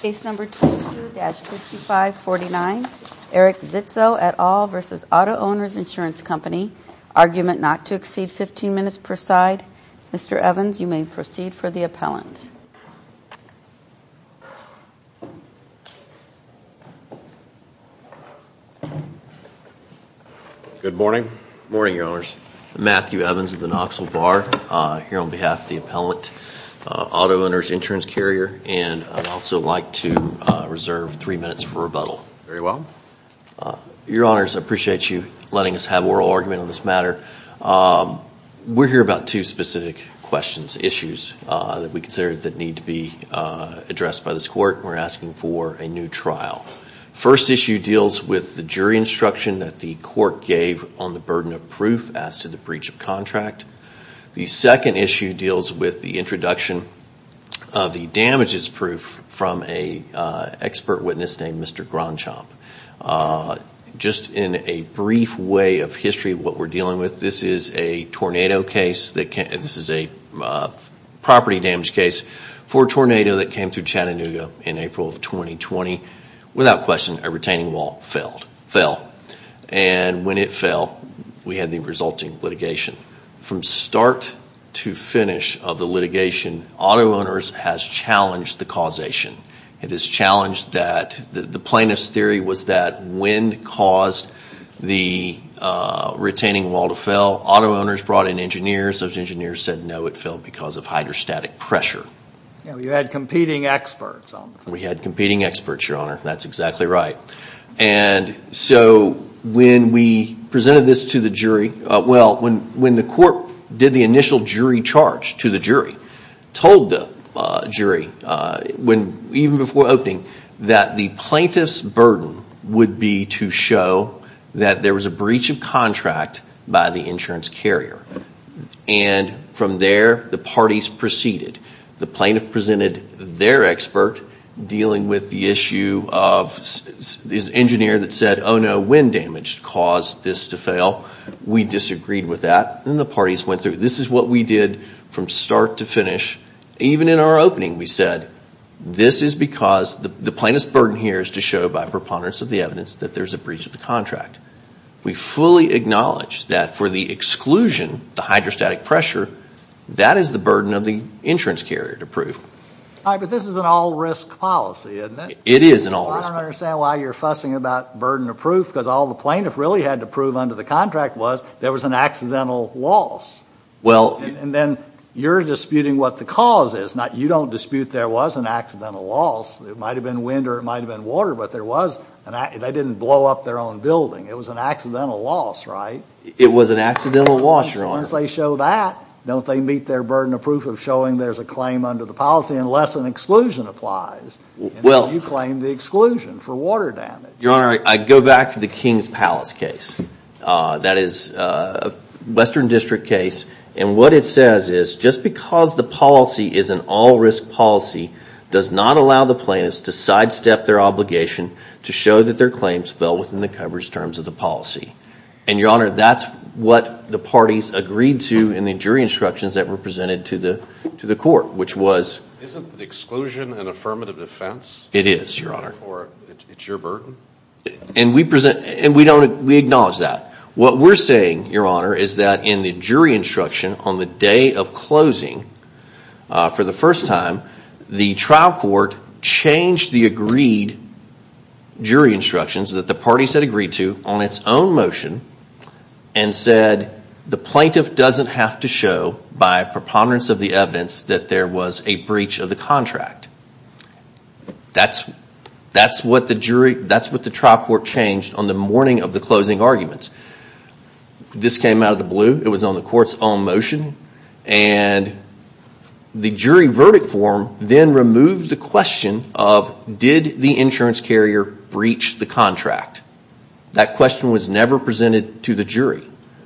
Case number 22-5549, Eric Zitzow et al. v. Auto Owners Insurance Company. Argument not to exceed 15 minutes per side. Mr. Evans, you may proceed for the appellant. Good morning. Good morning, Your Honors. I'm Matthew Evans of the Knoxville Bar here on behalf of the appellant, Auto Owners Insurance Carrier, and I'd also like to reserve three minutes for rebuttal. Very well. Your Honors, I appreciate you letting us have oral argument on this matter. We're here about two specific questions, issues, that we consider that need to be addressed by this court. We're asking for a new trial. First issue deals with the jury instruction that the court gave on the burden of proof as to the breach of contract. The second issue deals with the introduction of the damages proof from an expert witness named Mr. Gronschamp. Just in a brief way of history of what we're dealing with, this is a property damage case for a tornado that came through Chattanooga in April of 2020. Without question, a retaining wall fell. And when it fell, we had the resulting litigation. From start to finish of the litigation, Auto Owners has challenged the causation. It has challenged that the plaintiff's theory was that when caused the retaining wall to fell, Auto Owners brought in engineers. Those engineers said no, it fell because of hydrostatic pressure. You had competing experts. We had competing experts, Your Honor. That's exactly right. And so when we presented this to the jury, well, when the court did the initial jury charge to the jury, told the jury, even before opening, that the plaintiff's burden would be to show that there was a breach of contract by the insurance carrier. And from there, the parties proceeded. The plaintiff presented their expert dealing with the issue of this engineer that said, oh, no, wind damage caused this to fail. We disagreed with that. And the parties went through. This is what we did from start to finish. Even in our opening, we said this is because the plaintiff's burden here is to show by preponderance of the evidence that there's a breach of the contract. We fully acknowledge that for the exclusion, the hydrostatic pressure, that is the burden of the insurance carrier to prove. All right, but this is an all-risk policy, isn't it? It is an all-risk policy. I don't understand why you're fussing about burden of proof, because all the plaintiff really had to prove under the contract was there was an accidental loss. And then you're disputing what the cause is. You don't dispute there was an accidental loss. It might have been wind or it might have been water, but there was. They didn't blow up their own building. It was an accidental loss, right? It was an accidental loss, Your Honor. And as soon as they show that, don't they meet their burden of proof of showing there's a claim under the policy unless an exclusion applies, and then you claim the exclusion for water damage. Your Honor, I go back to the King's Palace case. That is a Western District case, and what it says is just because the policy is an all-risk policy does not allow the plaintiffs to sidestep their obligation to show that their claims fell within the coverage terms of the policy. And, Your Honor, that's what the parties agreed to in the jury instructions that were presented to the court, which was— Isn't exclusion an affirmative defense? It is, Your Honor. Or it's your burden? And we acknowledge that. What we're saying, Your Honor, is that in the jury instruction on the day of closing for the first time, the trial court changed the agreed jury instructions that the parties had agreed to on its own motion and said the plaintiff doesn't have to show by preponderance of the evidence that there was a breach of the contract. That's what the trial court changed on the morning of the closing arguments. This came out of the blue. It was on the court's own motion. And the jury verdict form then removed the question of did the insurance carrier breach the contract. That question was never presented to the jury.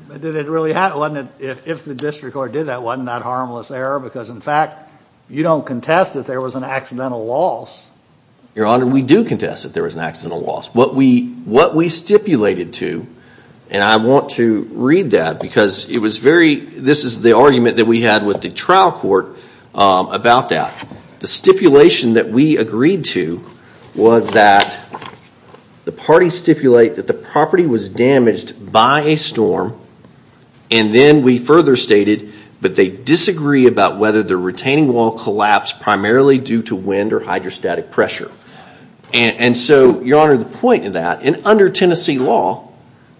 But did it really happen? If the district court did that, wasn't that harmless error? Because, in fact, you don't contest that there was an accidental loss. Your Honor, we do contest that there was an accidental loss. What we stipulated to, and I want to read that because this is the argument that we had with the trial court about that. The stipulation that we agreed to was that the parties stipulate that the property was damaged by a storm. And then we further stated that they disagree about whether the retaining wall collapsed primarily due to wind or hydrostatic pressure. And so, Your Honor, the point of that, and under Tennessee law,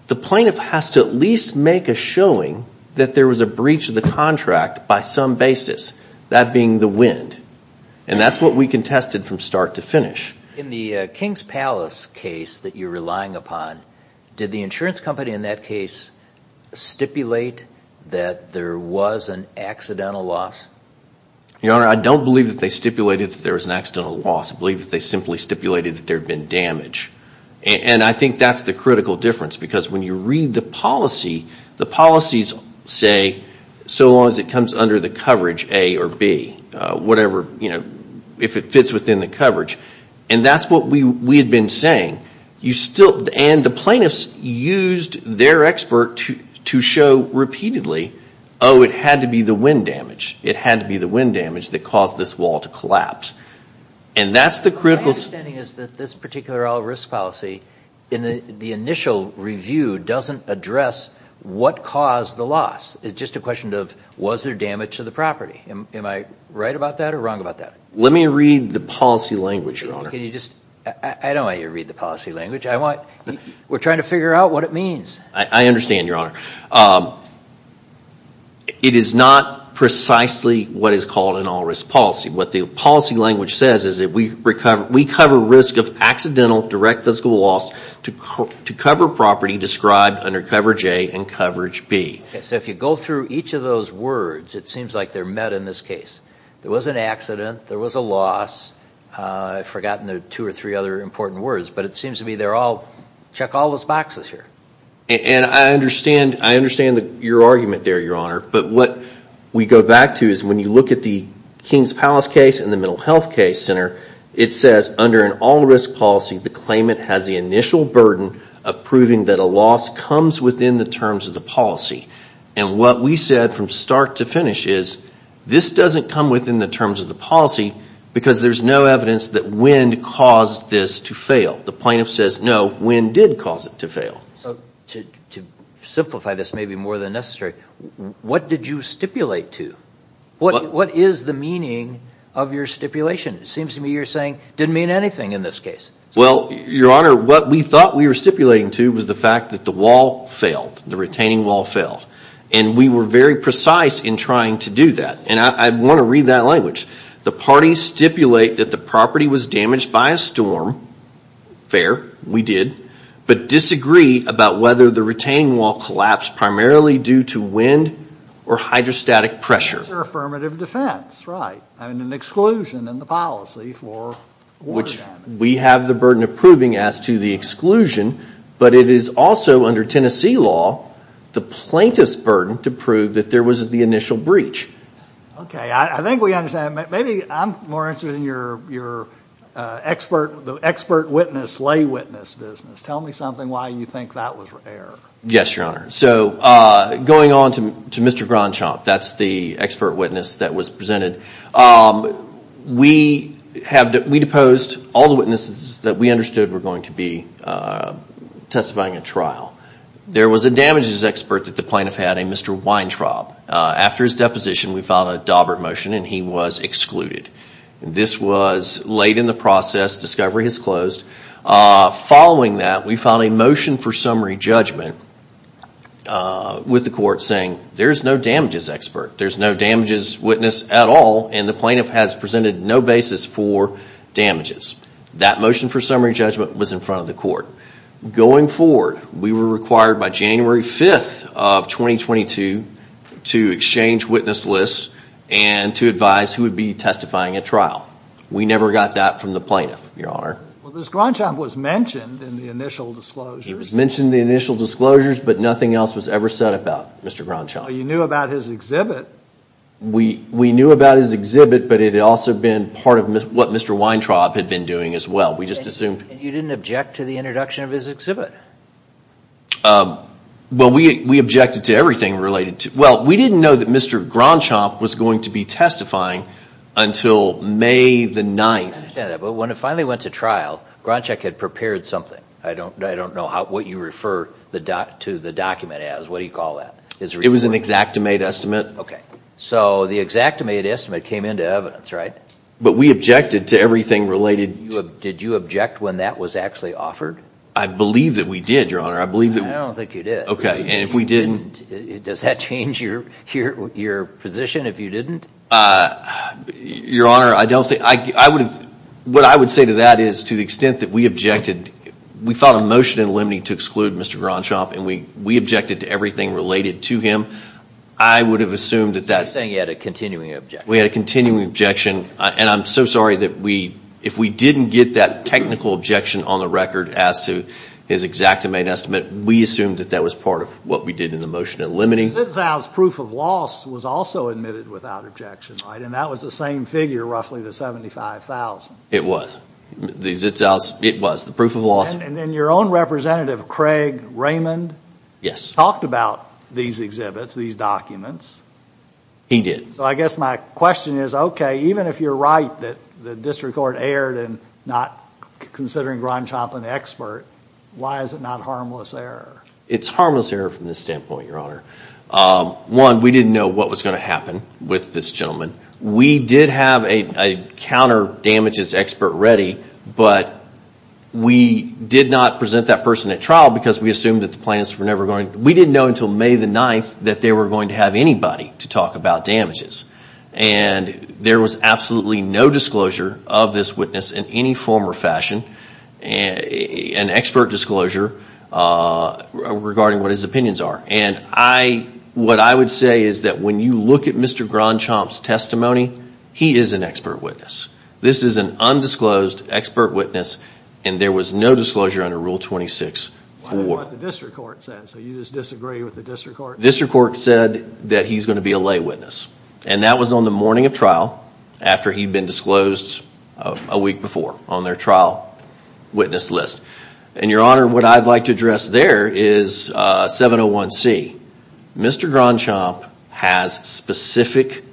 the plaintiff has to at least make a showing that there was a breach of the contract by some basis. That being the wind. And that's what we contested from start to finish. In the King's Palace case that you're relying upon, did the insurance company in that case stipulate that there was an accidental loss? Your Honor, I don't believe that they stipulated that there was an accidental loss. I believe that they simply stipulated that there had been damage. And I think that's the critical difference. Because when you read the policy, the policies say, so long as it comes under the coverage, A or B. Whatever, you know, if it fits within the coverage. And that's what we had been saying. And the plaintiffs used their expert to show repeatedly, oh, it had to be the wind damage. My understanding is that this particular all-risk policy, in the initial review, doesn't address what caused the loss. It's just a question of, was there damage to the property? Am I right about that or wrong about that? Let me read the policy language, Your Honor. I don't want you to read the policy language. We're trying to figure out what it means. I understand, Your Honor. It is not precisely what is called an all-risk policy. What the policy language says is that we cover risk of accidental direct physical loss to cover property described under coverage A and coverage B. So if you go through each of those words, it seems like they're met in this case. There was an accident. There was a loss. I've forgotten the two or three other important words. But it seems to me they're all, check all those boxes here. And I understand your argument there, Your Honor. But what we go back to is when you look at the King's Palace case and the Mental Health Case Center, it says under an all-risk policy, the claimant has the initial burden of proving that a loss comes within the terms of the policy. And what we said from start to finish is this doesn't come within the terms of the policy because there's no evidence that wind caused this to fail. The plaintiff says, no, wind did cause it to fail. To simplify this maybe more than necessary, what did you stipulate to? What is the meaning of your stipulation? It seems to me you're saying it didn't mean anything in this case. Well, Your Honor, what we thought we were stipulating to was the fact that the wall failed, the retaining wall failed. And we were very precise in trying to do that. And I want to read that language. The parties stipulate that the property was damaged by a storm. Fair, we did. But disagree about whether the retaining wall collapsed primarily due to wind or hydrostatic pressure. Affirmative defense, right. And an exclusion in the policy for water damage. Which we have the burden of proving as to the exclusion. But it is also under Tennessee law the plaintiff's burden to prove that there was the initial breach. Okay. I think we understand. Maybe I'm more interested in your expert witness, lay witness business. Tell me something why you think that was an error. Yes, Your Honor. So going on to Mr. Grandchamp, that's the expert witness that was presented. We deposed all the witnesses that we understood were going to be testifying at trial. There was a damages expert that the plaintiff had, a Mr. Weintraub. After his deposition, we filed a Daubert motion and he was excluded. This was late in the process. Discovery has closed. Following that, we filed a motion for summary judgment with the court saying, there's no damages expert, there's no damages witness at all, and the plaintiff has presented no basis for damages. That motion for summary judgment was in front of the court. Going forward, we were required by January 5th of 2022 to exchange witness lists and to advise who would be testifying at trial. We never got that from the plaintiff, Your Honor. Well, Mr. Grandchamp was mentioned in the initial disclosures. He was mentioned in the initial disclosures, but nothing else was ever said about Mr. Grandchamp. You knew about his exhibit. We knew about his exhibit, but it had also been part of what Mr. Weintraub had been doing as well. We just assumed. You didn't object to the introduction of his exhibit. Well, we objected to everything related to it. Well, we didn't know that Mr. Grandchamp was going to be testifying until May the 9th. I understand that. But when it finally went to trial, Grandchamp had prepared something. I don't know what you refer to the document as. What do you call that? It was an exactimate estimate. Okay. So the exactimate estimate came into evidence, right? But we objected to everything related to it. Did you object when that was actually offered? I believe that we did, Your Honor. I don't think you did. Okay. And if we didn't? Does that change your position if you didn't? Your Honor, what I would say to that is to the extent that we objected, we filed a motion in Lemney to exclude Mr. Grandchamp, and we objected to everything related to him. I would have assumed that that— You're saying you had a continuing objection. We had a continuing objection. And I'm so sorry that if we didn't get that technical objection on the record as to his exactimate estimate, we assumed that that was part of what we did in the motion in Lemney. Zitzow's proof of loss was also admitted without objection, right? And that was the same figure, roughly the 75,000. It was. The Zitzow's—it was. The proof of loss— And your own representative, Craig Raymond— Yes. —talked about these exhibits, these documents. He did. So I guess my question is, okay, even if you're right that the district court erred in not considering Grandchamp an expert, why is it not harmless error? It's harmless error from this standpoint, Your Honor. One, we didn't know what was going to happen with this gentleman. We did have a counter damages expert ready, but we did not present that person at trial because we assumed that the plaintiffs were never going to— And there was absolutely no disclosure of this witness in any form or fashion, an expert disclosure regarding what his opinions are. And I—what I would say is that when you look at Mr. Grandchamp's testimony, he is an expert witness. This is an undisclosed expert witness, and there was no disclosure under Rule 26 for— What about what the district court said? So you just disagree with the district court? The district court said that he's going to be a lay witness, and that was on the morning of trial after he'd been disclosed a week before on their trial witness list. And, Your Honor, what I'd like to address there is 701C. Mr. Grandchamp has specific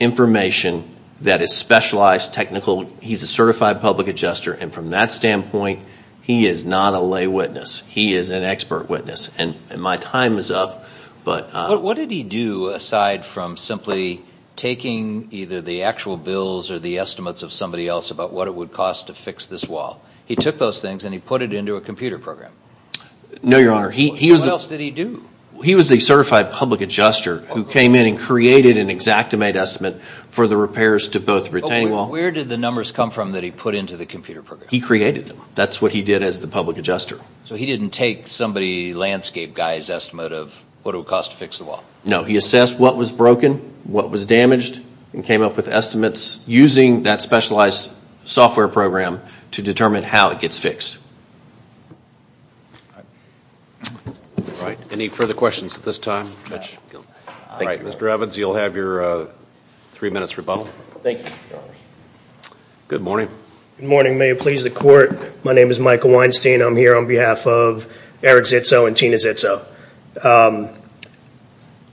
information that is specialized, technical. He's a certified public adjuster, and from that standpoint, he is not a lay witness. He is an expert witness, and my time is up, but— But what did he do aside from simply taking either the actual bills or the estimates of somebody else about what it would cost to fix this wall? He took those things, and he put it into a computer program. No, Your Honor. What else did he do? He was a certified public adjuster who came in and created an exactimate estimate for the repairs to both retaining wall— Where did the numbers come from that he put into the computer program? He created them. That's what he did as the public adjuster. So he didn't take somebody landscape guy's estimate of what it would cost to fix the wall? No, he assessed what was broken, what was damaged, and came up with estimates using that specialized software program to determine how it gets fixed. All right. Any further questions at this time? All right, Mr. Evans, you'll have your three minutes rebuttal. Thank you, Your Honor. Good morning. Good morning. May it please the Court, my name is Michael Weinstein. I'm here on behalf of Eric Zitzo and Tina Zitzo.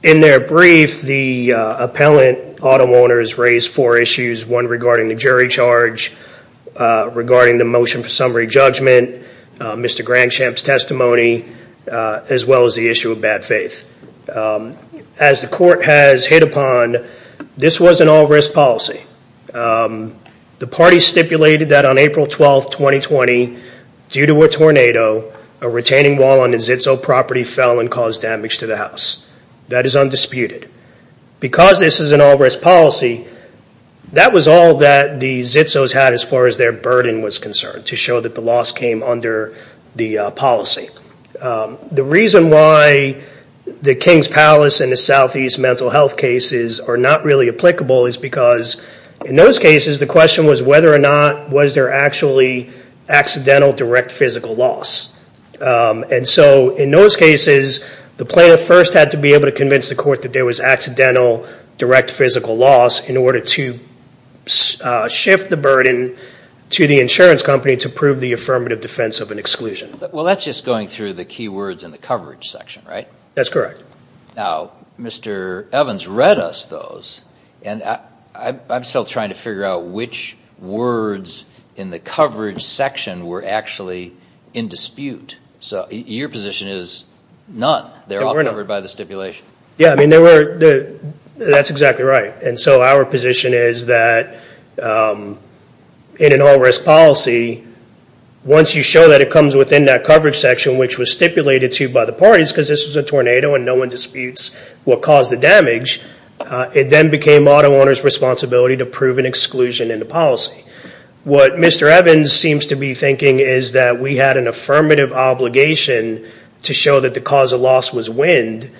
In their brief, the appellant, Autumn Warner, has raised four issues, one regarding the jury charge, regarding the motion for summary judgment, Mr. Grangsham's testimony, as well as the issue of bad faith. As the Court has hit upon, this was an all-risk policy. The party stipulated that on April 12, 2020, due to a tornado, a retaining wall on a Zitzo property fell and caused damage to the house. That is undisputed. Because this is an all-risk policy, that was all that the Zitzos had as far as their burden was concerned, to show that the loss came under the policy. The reason why the King's Palace and the Southeast mental health cases are not really applicable is because, in those cases, the question was whether or not was there actually accidental direct physical loss. In those cases, the plaintiff first had to be able to convince the Court that there was accidental direct physical loss in order to shift the burden to the insurance company to prove the affirmative defense of an exclusion. Well, that's just going through the key words in the coverage section, right? That's correct. Now, Mr. Evans read us those, and I'm still trying to figure out which words in the coverage section were actually in dispute. Your position is none. They're all covered by the stipulation. That's exactly right. Our position is that, in an all-risk policy, once you show that it comes within that coverage section, which was stipulated to you by the parties, because this was a tornado and no one disputes what caused the damage, it then became auto owners' responsibility to prove an exclusion in the policy. What Mr. Evans seems to be thinking is that we had an affirmative obligation to show that the cause of loss was wind,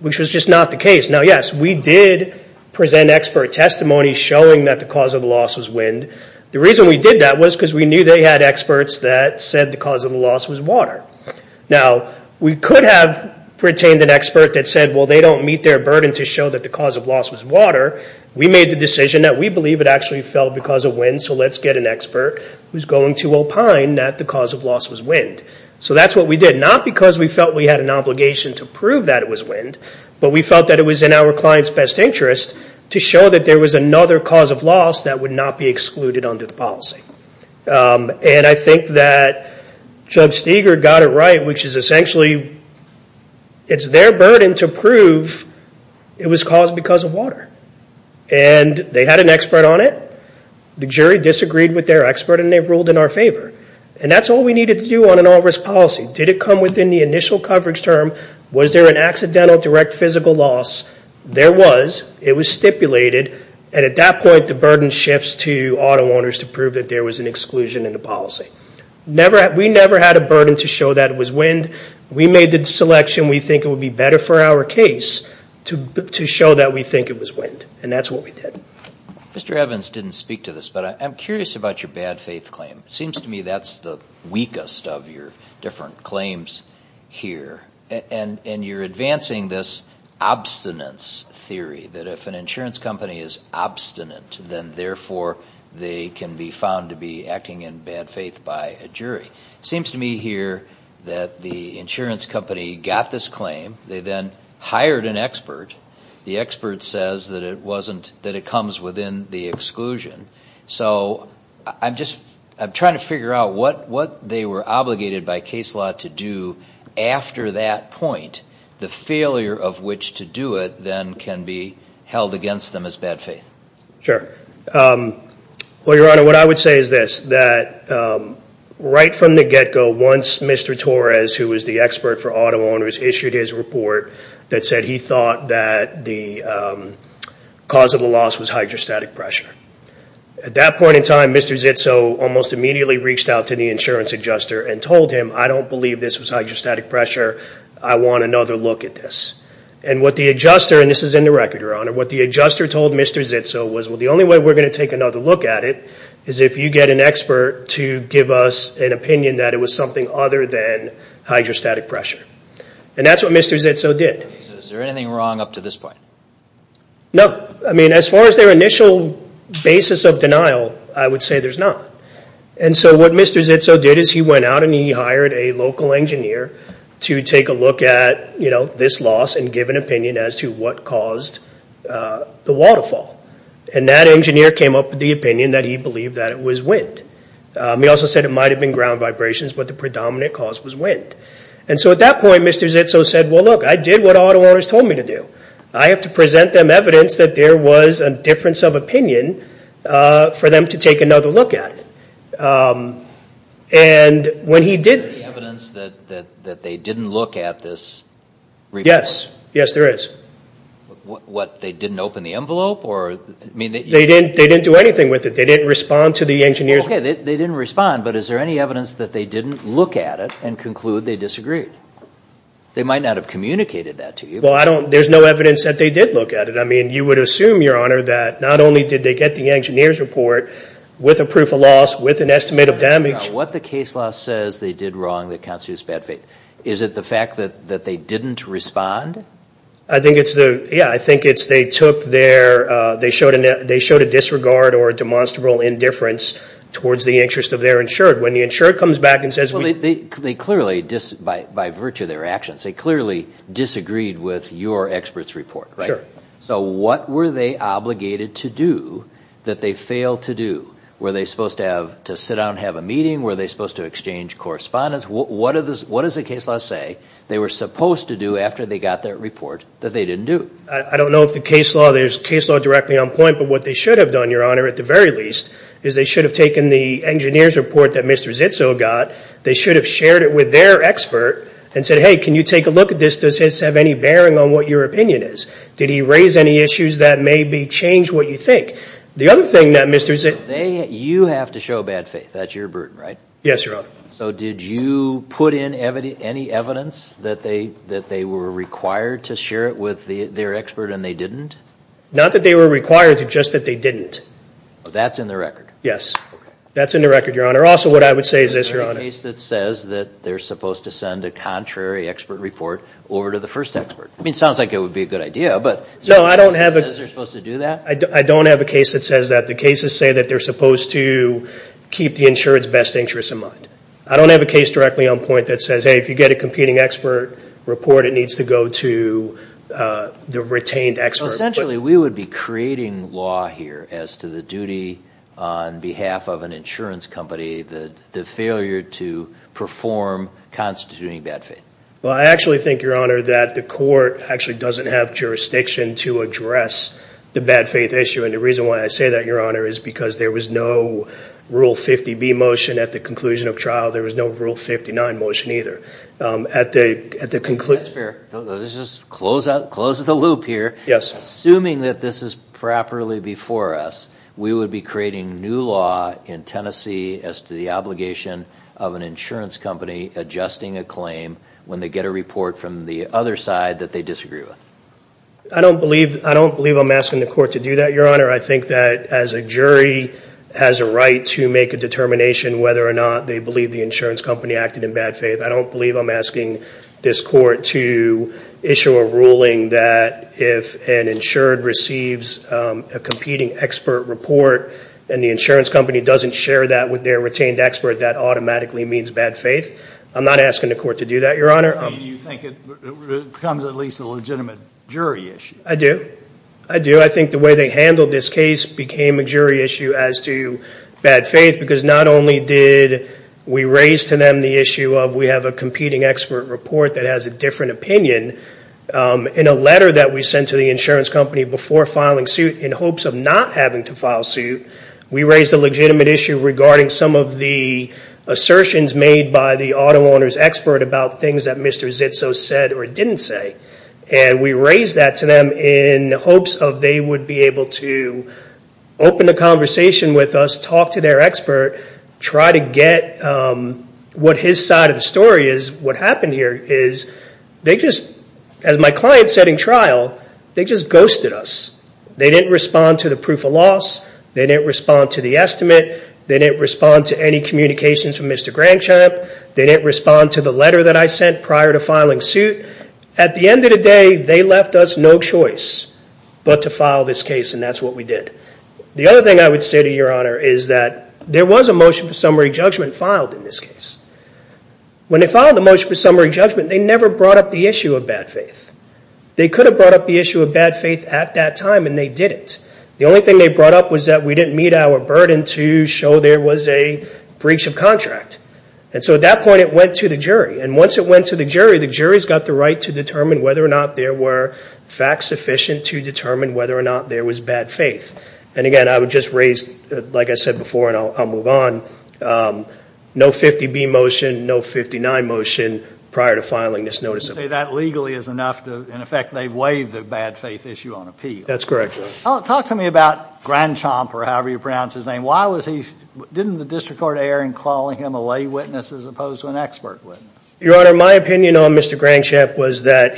which was just not the case. Now, yes, we did present expert testimony showing that the cause of the loss was wind. The reason we did that was because we knew they had experts that said the cause of the loss was water. Now, we could have retained an expert that said, well, they don't meet their burden to show that the cause of loss was water. We made the decision that we believe it actually fell because of wind, so let's get an expert who's going to opine that the cause of loss was wind. So that's what we did, not because we felt we had an obligation to prove that it was wind, but we felt that it was in our client's best interest to show that there was another cause of loss that would not be excluded under the policy. And I think that Judge Steger got it right, which is essentially, it's their burden to prove it was caused because of water. And they had an expert on it. The jury disagreed with their expert, and they ruled in our favor. And that's all we needed to do on an all-risk policy. Did it come within the initial coverage term? Was there an accidental direct physical loss? There was. It was stipulated. And at that point, the burden shifts to auto owners to prove that there was an exclusion in the policy. We never had a burden to show that it was wind. We made the selection we think it would be better for our case to show that we think it was wind, and that's what we did. Mr. Evans didn't speak to this, but I'm curious about your bad faith claim. It seems to me that's the weakest of your different claims here. And you're advancing this obstinance theory, that if an insurance company is obstinate, then therefore they can be found to be acting in bad faith by a jury. It seems to me here that the insurance company got this claim. They then hired an expert. The expert says that it comes within the exclusion. So I'm trying to figure out what they were obligated by case law to do after that point, the failure of which to do it, then can be held against them as bad faith. Sure. Well, Your Honor, what I would say is this, that right from the get-go, once Mr. Torres, who was the expert for auto owners, issued his report that said he thought that the cause of the loss was hydrostatic pressure. At that point in time, Mr. Zitzo almost immediately reached out to the insurance adjuster and told him, I don't believe this was hydrostatic pressure. I want another look at this. And what the adjuster, and this is in the record, Your Honor, what the adjuster told Mr. Zitzo was, well, the only way we're going to take another look at it is if you get an expert to give us an opinion that it was something other than hydrostatic pressure. And that's what Mr. Zitzo did. Is there anything wrong up to this point? No. I mean, as far as their initial basis of denial, I would say there's not. And so what Mr. Zitzo did is he went out and he hired a local engineer to take a look at this loss and give an opinion as to what caused the waterfall. And that engineer came up with the opinion that he believed that it was wind. He also said it might have been ground vibrations, but the predominant cause was wind. And so at that point, Mr. Zitzo said, well, look, I did what auto owners told me to do. I have to present them evidence that there was a difference of opinion for them to take another look at it. And when he did... Is there any evidence that they didn't look at this report? Yes. Yes, there is. What, they didn't open the envelope? They didn't do anything with it. They didn't respond to the engineer's... Okay, they didn't respond, but is there any evidence that they didn't look at it and conclude they disagreed? They might not have communicated that to you. Well, there's no evidence that they did look at it. I mean, you would assume, Your Honor, that not only did they get the engineer's report with a proof of loss, with an estimate of damage. What the case law says they did wrong that constitutes bad faith. Is it the fact that they didn't respond? I think it's the... Yeah, I think it's they took their... They showed a disregard or a demonstrable indifference towards the interest of their insured. When the insured comes back and says... Well, they clearly, by virtue of their actions, they clearly disagreed with your expert's report, right? So what were they obligated to do that they failed to do? Were they supposed to sit down and have a meeting? Were they supposed to exchange correspondence? What does the case law say they were supposed to do after they got that report that they didn't do? I don't know if there's case law directly on point, but what they should have done, Your Honor, at the very least, is they should have taken the engineer's report that Mr. Zitzo got, they should have shared it with their expert, and said, hey, can you take a look at this? Does this have any bearing on what your opinion is? Did he raise any issues that maybe change what you think? The other thing that Mr. Zitzo... You have to show bad faith. That's your burden, right? Yes, Your Honor. So did you put in any evidence that they were required to share it with their expert and they didn't? Not that they were required, just that they didn't. That's in the record? Yes. That's in the record, Your Honor. Also, what I would say is this, Your Honor... Is there a case that says that they're supposed to send a contrary expert report over to the first expert? I mean, it sounds like it would be a good idea, but... No, I don't have a... Is there a case that says they're supposed to do that? I don't have a case that says that. The cases say that they're supposed to keep the insurance best interests in mind. I don't have a case directly on point that says, hey, if you get a competing expert report, it needs to go to the retained expert. Essentially, we would be creating law here as to the duty on behalf of an insurance company, the failure to perform constituting bad faith. Well, I actually think, Your Honor, that the court actually doesn't have jurisdiction to address the bad faith issue. And the reason why I say that, Your Honor, is because there was no Rule 50B motion at the conclusion of trial. There was no Rule 59 motion either. At the conclusion... That's fair. Let's just close the loop here. Assuming that this is properly before us, we would be creating new law in Tennessee as to the obligation of an insurance company adjusting a claim when they get a report from the other side that they disagree with. I don't believe I'm asking the court to do that, Your Honor. I think that as a jury has a right to make a determination whether or not they believe the insurance company acted in bad faith. I don't believe I'm asking this court to issue a ruling that if an insured receives a competing expert report and the insurance company doesn't share that with their retained expert, that automatically means bad faith. I'm not asking the court to do that, Your Honor. You think it becomes at least a legitimate jury issue. I do. I do. I think the way they handled this case became a jury issue as to bad faith because not only did we raise to them the issue of we have a competing expert report that has a different opinion, in a letter that we sent to the insurance company before filing suit in hopes of not having to file suit, we raised a legitimate issue regarding some of the assertions made by the auto owner's expert about things that Mr. Zitso said or didn't say. We raised that to them in hopes of they would be able to open a conversation with us, talk to their expert, try to get what his side of the story is. What happened here is they just, as my client said in trial, they just ghosted us. They didn't respond to the proof of loss. They didn't respond to the estimate. They didn't respond to any communications from Mr. Grangchamp. They didn't respond to the letter that I sent prior to filing suit. At the end of the day, they left us no choice but to file this case, and that's what we did. The other thing I would say to Your Honor is that there was a motion for summary judgment filed in this case. When they filed the motion for summary judgment, they never brought up the issue of bad faith. They could have brought up the issue of bad faith at that time, and they didn't. The only thing they brought up was that we didn't meet our burden to show there was a breach of contract. And so at that point, it went to the jury. And once it went to the jury, the jury's got the right to determine whether or not there were facts sufficient to determine whether or not there was bad faith. And again, I would just raise, like I said before, and I'll move on, no 50B motion, no 59 motion prior to filing this notice of appeal. You can say that legally is enough to, in effect, they've waived the bad faith issue on appeal. That's correct. Talk to me about Grandchamp, or however you pronounce his name. Didn't the district court error in calling him a lay witness as opposed to an expert witness? Your Honor, my opinion on Mr. Grandchamp was that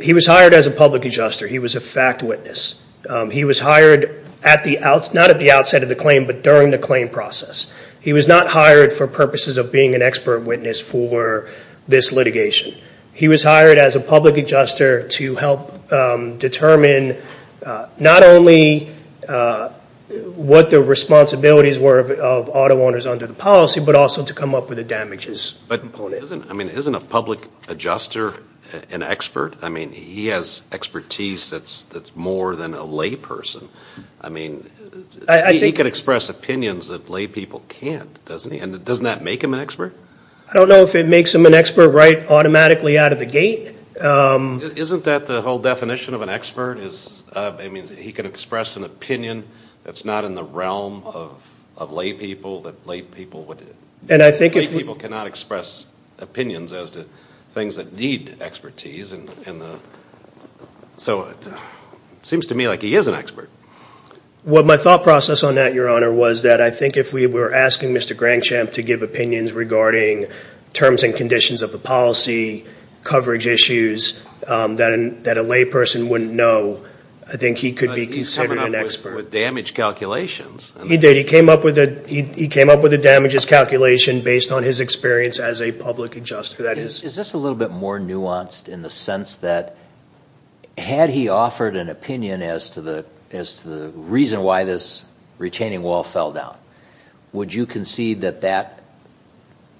he was hired as a public adjuster. He was a fact witness. He was hired not at the outset of the claim, but during the claim process. He was not hired for purposes of being an expert witness for this litigation. He was hired as a public adjuster to help determine not only what the responsibilities were of auto owners under the policy, but also to come up with the damages. But isn't a public adjuster an expert? I mean, he has expertise that's more than a lay person. I mean, he can express opinions that lay people can't, doesn't he? And doesn't that make him an expert? I don't know if it makes him an expert right automatically out of the gate. Isn't that the whole definition of an expert? I mean, he can express an opinion that's not in the realm of lay people, that lay people cannot express opinions as to things that need expertise. So it seems to me like he is an expert. Well, my thought process on that, Your Honor, was that I think if we were asking Mr. Grangsham to give opinions regarding terms and conditions of the policy, coverage issues that a lay person wouldn't know, I think he could be considered an expert. But he's coming up with damage calculations. He did. He came up with a damages calculation based on his experience as a public adjuster. Is this a little bit more nuanced in the sense that had he offered an opinion as to the reason why this retaining wall fell down, would you concede that that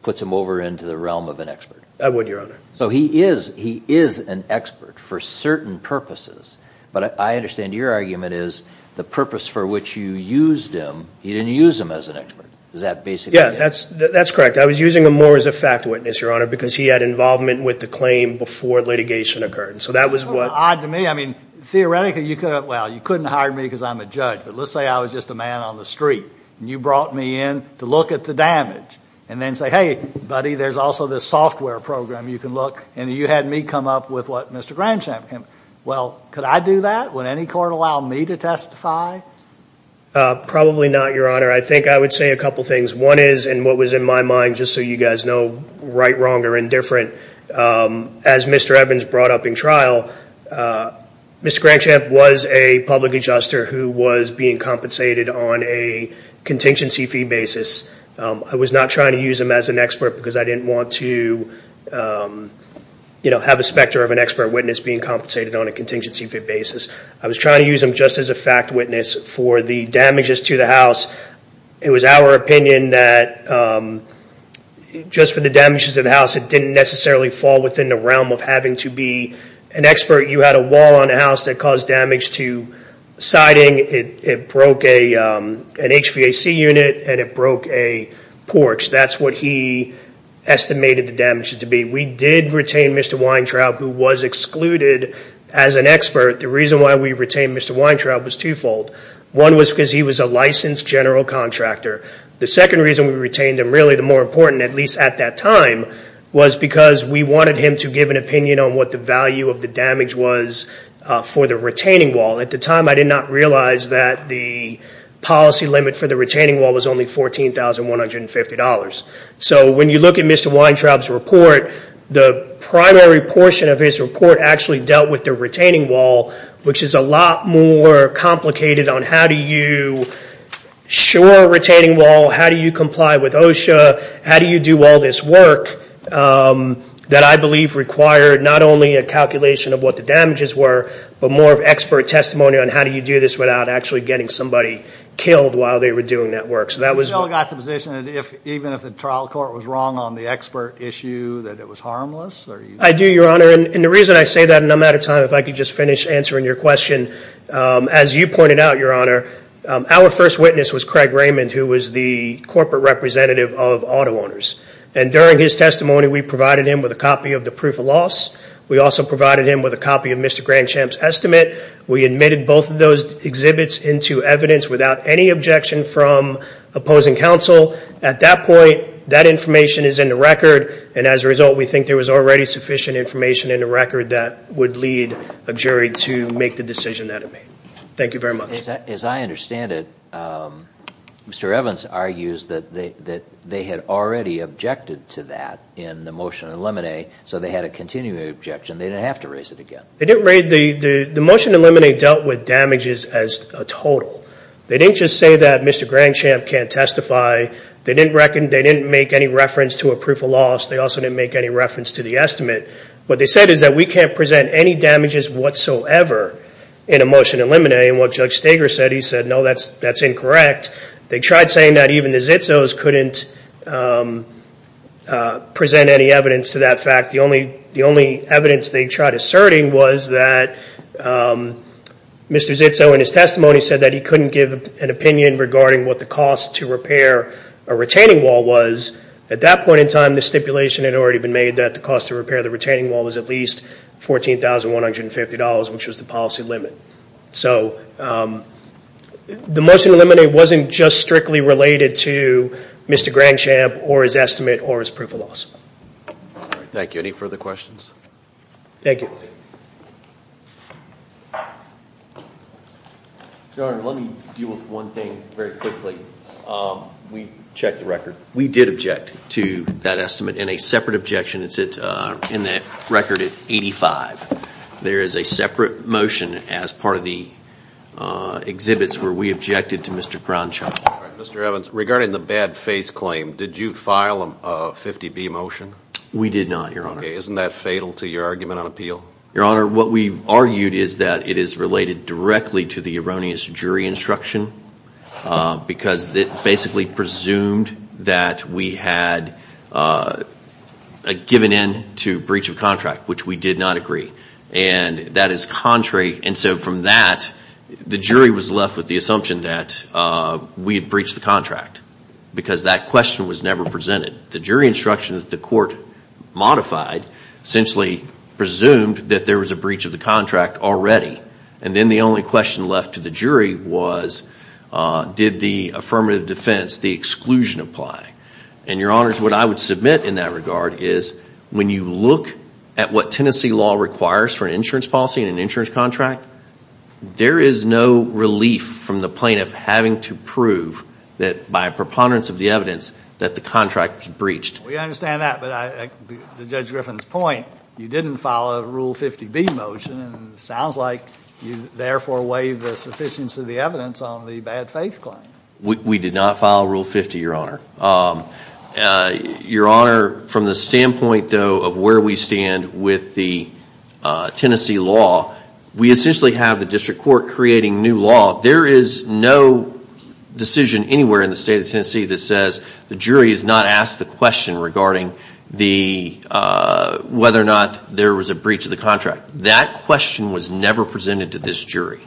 puts him over into the realm of an expert? I would, Your Honor. So he is an expert for certain purposes. But I understand your argument is the purpose for which you used him, you didn't use him as an expert. Is that basically it? Yeah, that's correct. I was using him more as a fact witness, Your Honor, because he had involvement with the claim before litigation occurred. So that was what ---- It's a little odd to me. I mean, theoretically you could have, well, you couldn't hire me because I'm a judge. But let's say I was just a man on the street, and you brought me in to look at the damage and then say, hey, buddy, there's also this software program you can look. And you had me come up with what Mr. Grangsham came up with. Well, could I do that? Would any court allow me to testify? Probably not, Your Honor. I think I would say a couple things. One is, in what was in my mind, just so you guys know, right, wrong, or indifferent, as Mr. Evans brought up in trial, Mr. Grangsham was a public adjuster who was being compensated on a contingency fee basis. I was not trying to use him as an expert because I didn't want to, you know, have a specter of an expert witness being compensated on a contingency fee basis. I was trying to use him just as a fact witness for the damages to the house. It was our opinion that just for the damages to the house, it didn't necessarily fall within the realm of having to be an expert. You had a wall on the house that caused damage to siding. It broke an HVAC unit, and it broke a porch. That's what he estimated the damage to be. We did retain Mr. Weintraub, who was excluded as an expert. The reason why we retained Mr. Weintraub was twofold. One was because he was a licensed general contractor. The second reason we retained him, really the more important, at least at that time, was because we wanted him to give an opinion on what the value of the damage was for the retaining wall. At the time, I did not realize that the policy limit for the retaining wall was only $14,150. So when you look at Mr. Weintraub's report, the primary portion of his report actually dealt with the retaining wall, which is a lot more complicated on how do you shore a retaining wall, how do you comply with OSHA, how do you do all this work, that I believe required not only a calculation of what the damages were, but more of expert testimony on how do you do this without actually getting somebody killed while they were doing that work. So that was one. You still got the position that even if the trial court was wrong on the expert issue, that it was harmless? I do, Your Honor. And the reason I say that, and I'm out of time, if I could just finish answering your question, as you pointed out, Your Honor, our first witness was Craig Raymond, who was the corporate representative of auto owners. And during his testimony, we provided him with a copy of the proof of loss. We also provided him with a copy of Mr. Grandchamp's estimate. We admitted both of those exhibits into evidence without any objection from opposing counsel. At that point, that information is in the record, and as a result, we think there was already sufficient information in the record that would lead a jury to make the decision that it made. Thank you very much. As I understand it, Mr. Evans argues that they had already objected to that in the motion to eliminate, so they had a continuing objection. They didn't have to raise it again. They didn't raise it. The motion to eliminate dealt with damages as a total. They didn't just say that Mr. Grandchamp can't testify. They didn't make any reference to a proof of loss. They also didn't make any reference to the estimate. What they said is that we can't present any damages whatsoever in a motion to eliminate. And what Judge Steger said, he said, no, that's incorrect. They tried saying that even the Zitzos couldn't present any evidence to that fact. The only evidence they tried asserting was that Mr. Zitzo, in his testimony, said that he couldn't give an opinion regarding what the cost to repair a retaining wall was. At that point in time, the stipulation had already been made that the cost to repair the retaining wall was at least $14,150, which was the policy limit. So the motion to eliminate wasn't just strictly related to Mr. Grandchamp or his estimate or his proof of loss. Any further questions? Thank you. Your Honor, let me deal with one thing very quickly. We checked the record. We did object to that estimate in a separate objection. It's in the record at 85. There is a separate motion as part of the exhibits where we objected to Mr. Grandchamp. Mr. Evans, regarding the bad faith claim, did you file a 50B motion? We did not, Your Honor. Isn't that fatal to your argument on appeal? Your Honor, what we've argued is that it is related directly to the erroneous jury instruction because it basically presumed that we had given in to breach of contract, which we did not agree. And that is contrary. And so from that, the jury was left with the assumption that we had breached the contract because that question was never presented. The jury instruction that the court modified essentially presumed that there was a breach of the contract already. And then the only question left to the jury was did the affirmative defense, the exclusion, apply. And, Your Honors, what I would submit in that regard is when you look at what Tennessee law requires for an insurance policy and an insurance contract, there is no relief from the plaintiff having to prove that by a preponderance of the evidence that the contract was breached. We understand that. But to Judge Griffin's point, you didn't file a Rule 50B motion, and it sounds like you therefore waived the sufficiency of the evidence on the bad faith claim. We did not file Rule 50, Your Honor. Your Honor, from the standpoint, though, of where we stand with the Tennessee law, we essentially have the district court creating new law. There is no decision anywhere in the state of Tennessee that says the jury has not asked the question regarding whether or not there was a breach of the contract. That question was never presented to this jury.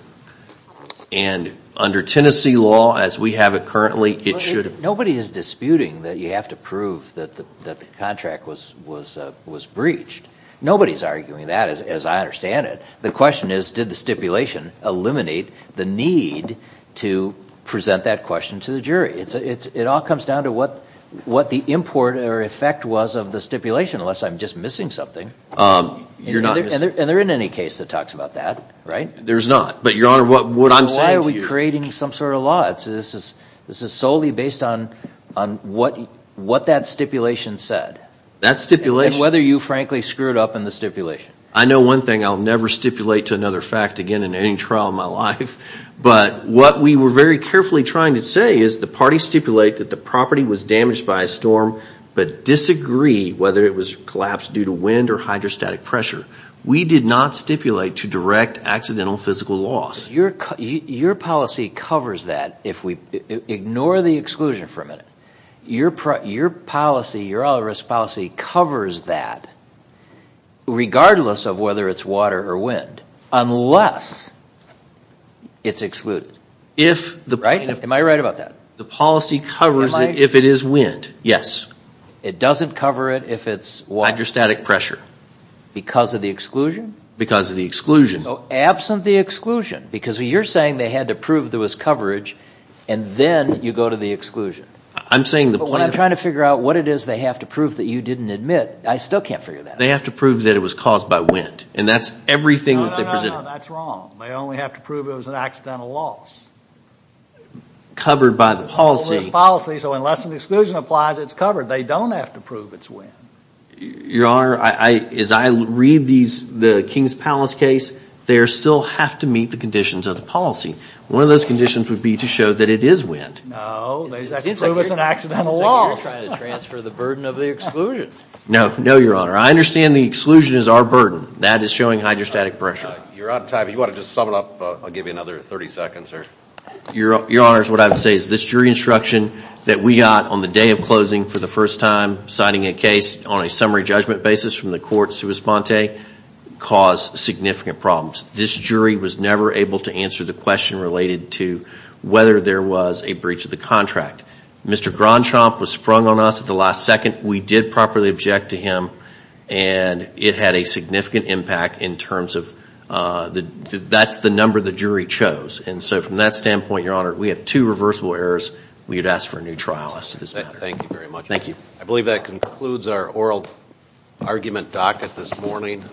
And under Tennessee law, as we have it currently, it should have. Nobody is disputing that you have to prove that the contract was breached. Nobody is arguing that, as I understand it. The question is, did the stipulation eliminate the need to present that question to the jury? It all comes down to what the import or effect was of the stipulation, unless I'm just missing something. You're not. And they're in any case that talks about that, right? There's not. But, Your Honor, what I'm saying to you. Why are we creating some sort of law? This is solely based on what that stipulation said. That stipulation. And whether you, frankly, screwed up in the stipulation. I know one thing. I'll never stipulate to another fact again in any trial in my life. But what we were very carefully trying to say is the parties stipulate that the property was damaged by a storm, but disagree whether it was collapsed due to wind or hydrostatic pressure. We did not stipulate to direct accidental physical loss. Your policy covers that. Ignore the exclusion for a minute. Your policy, your risk policy, covers that regardless of whether it's water or wind. Unless it's excluded. Am I right about that? The policy covers it if it is wind. Yes. It doesn't cover it if it's water? Hydrostatic pressure. Because of the exclusion? Because of the exclusion. Absent the exclusion. Because you're saying they had to prove there was coverage, and then you go to the exclusion. I'm saying the point is... But when I'm trying to figure out what it is they have to prove that you didn't admit, I still can't figure that out. They have to prove that it was caused by wind. And that's everything that they presented. No, no, no, no. That's wrong. They only have to prove it was an accidental loss. Covered by the policy. It's a risk policy, so unless an exclusion applies, it's covered. They don't have to prove it's wind. Your Honor, as I read the King's Palace case, they still have to meet the conditions of the policy. One of those conditions would be to show that it is wind. No, they just have to prove it's an accidental loss. It seems like you're trying to transfer the burden of the exclusion. No, no, Your Honor. I understand the exclusion is our burden. That is showing hydrostatic pressure. You're out of time. If you want to just sum it up, I'll give you another 30 seconds. Your Honor, what I would say is this jury instruction that we got on the day of closing for the first time, citing a case on a summary judgment basis from the court sui sponte, caused significant problems. This jury was never able to answer the question related to whether there was a breach of the contract. Mr. Grandchamp was sprung on us at the last second. We did properly object to him, and it had a significant impact in terms of that's the number the jury chose. From that standpoint, Your Honor, we have two reversible errors. We would ask for a new trial as to this matter. Thank you very much. Thank you. I believe that concludes our oral argument docket this morning.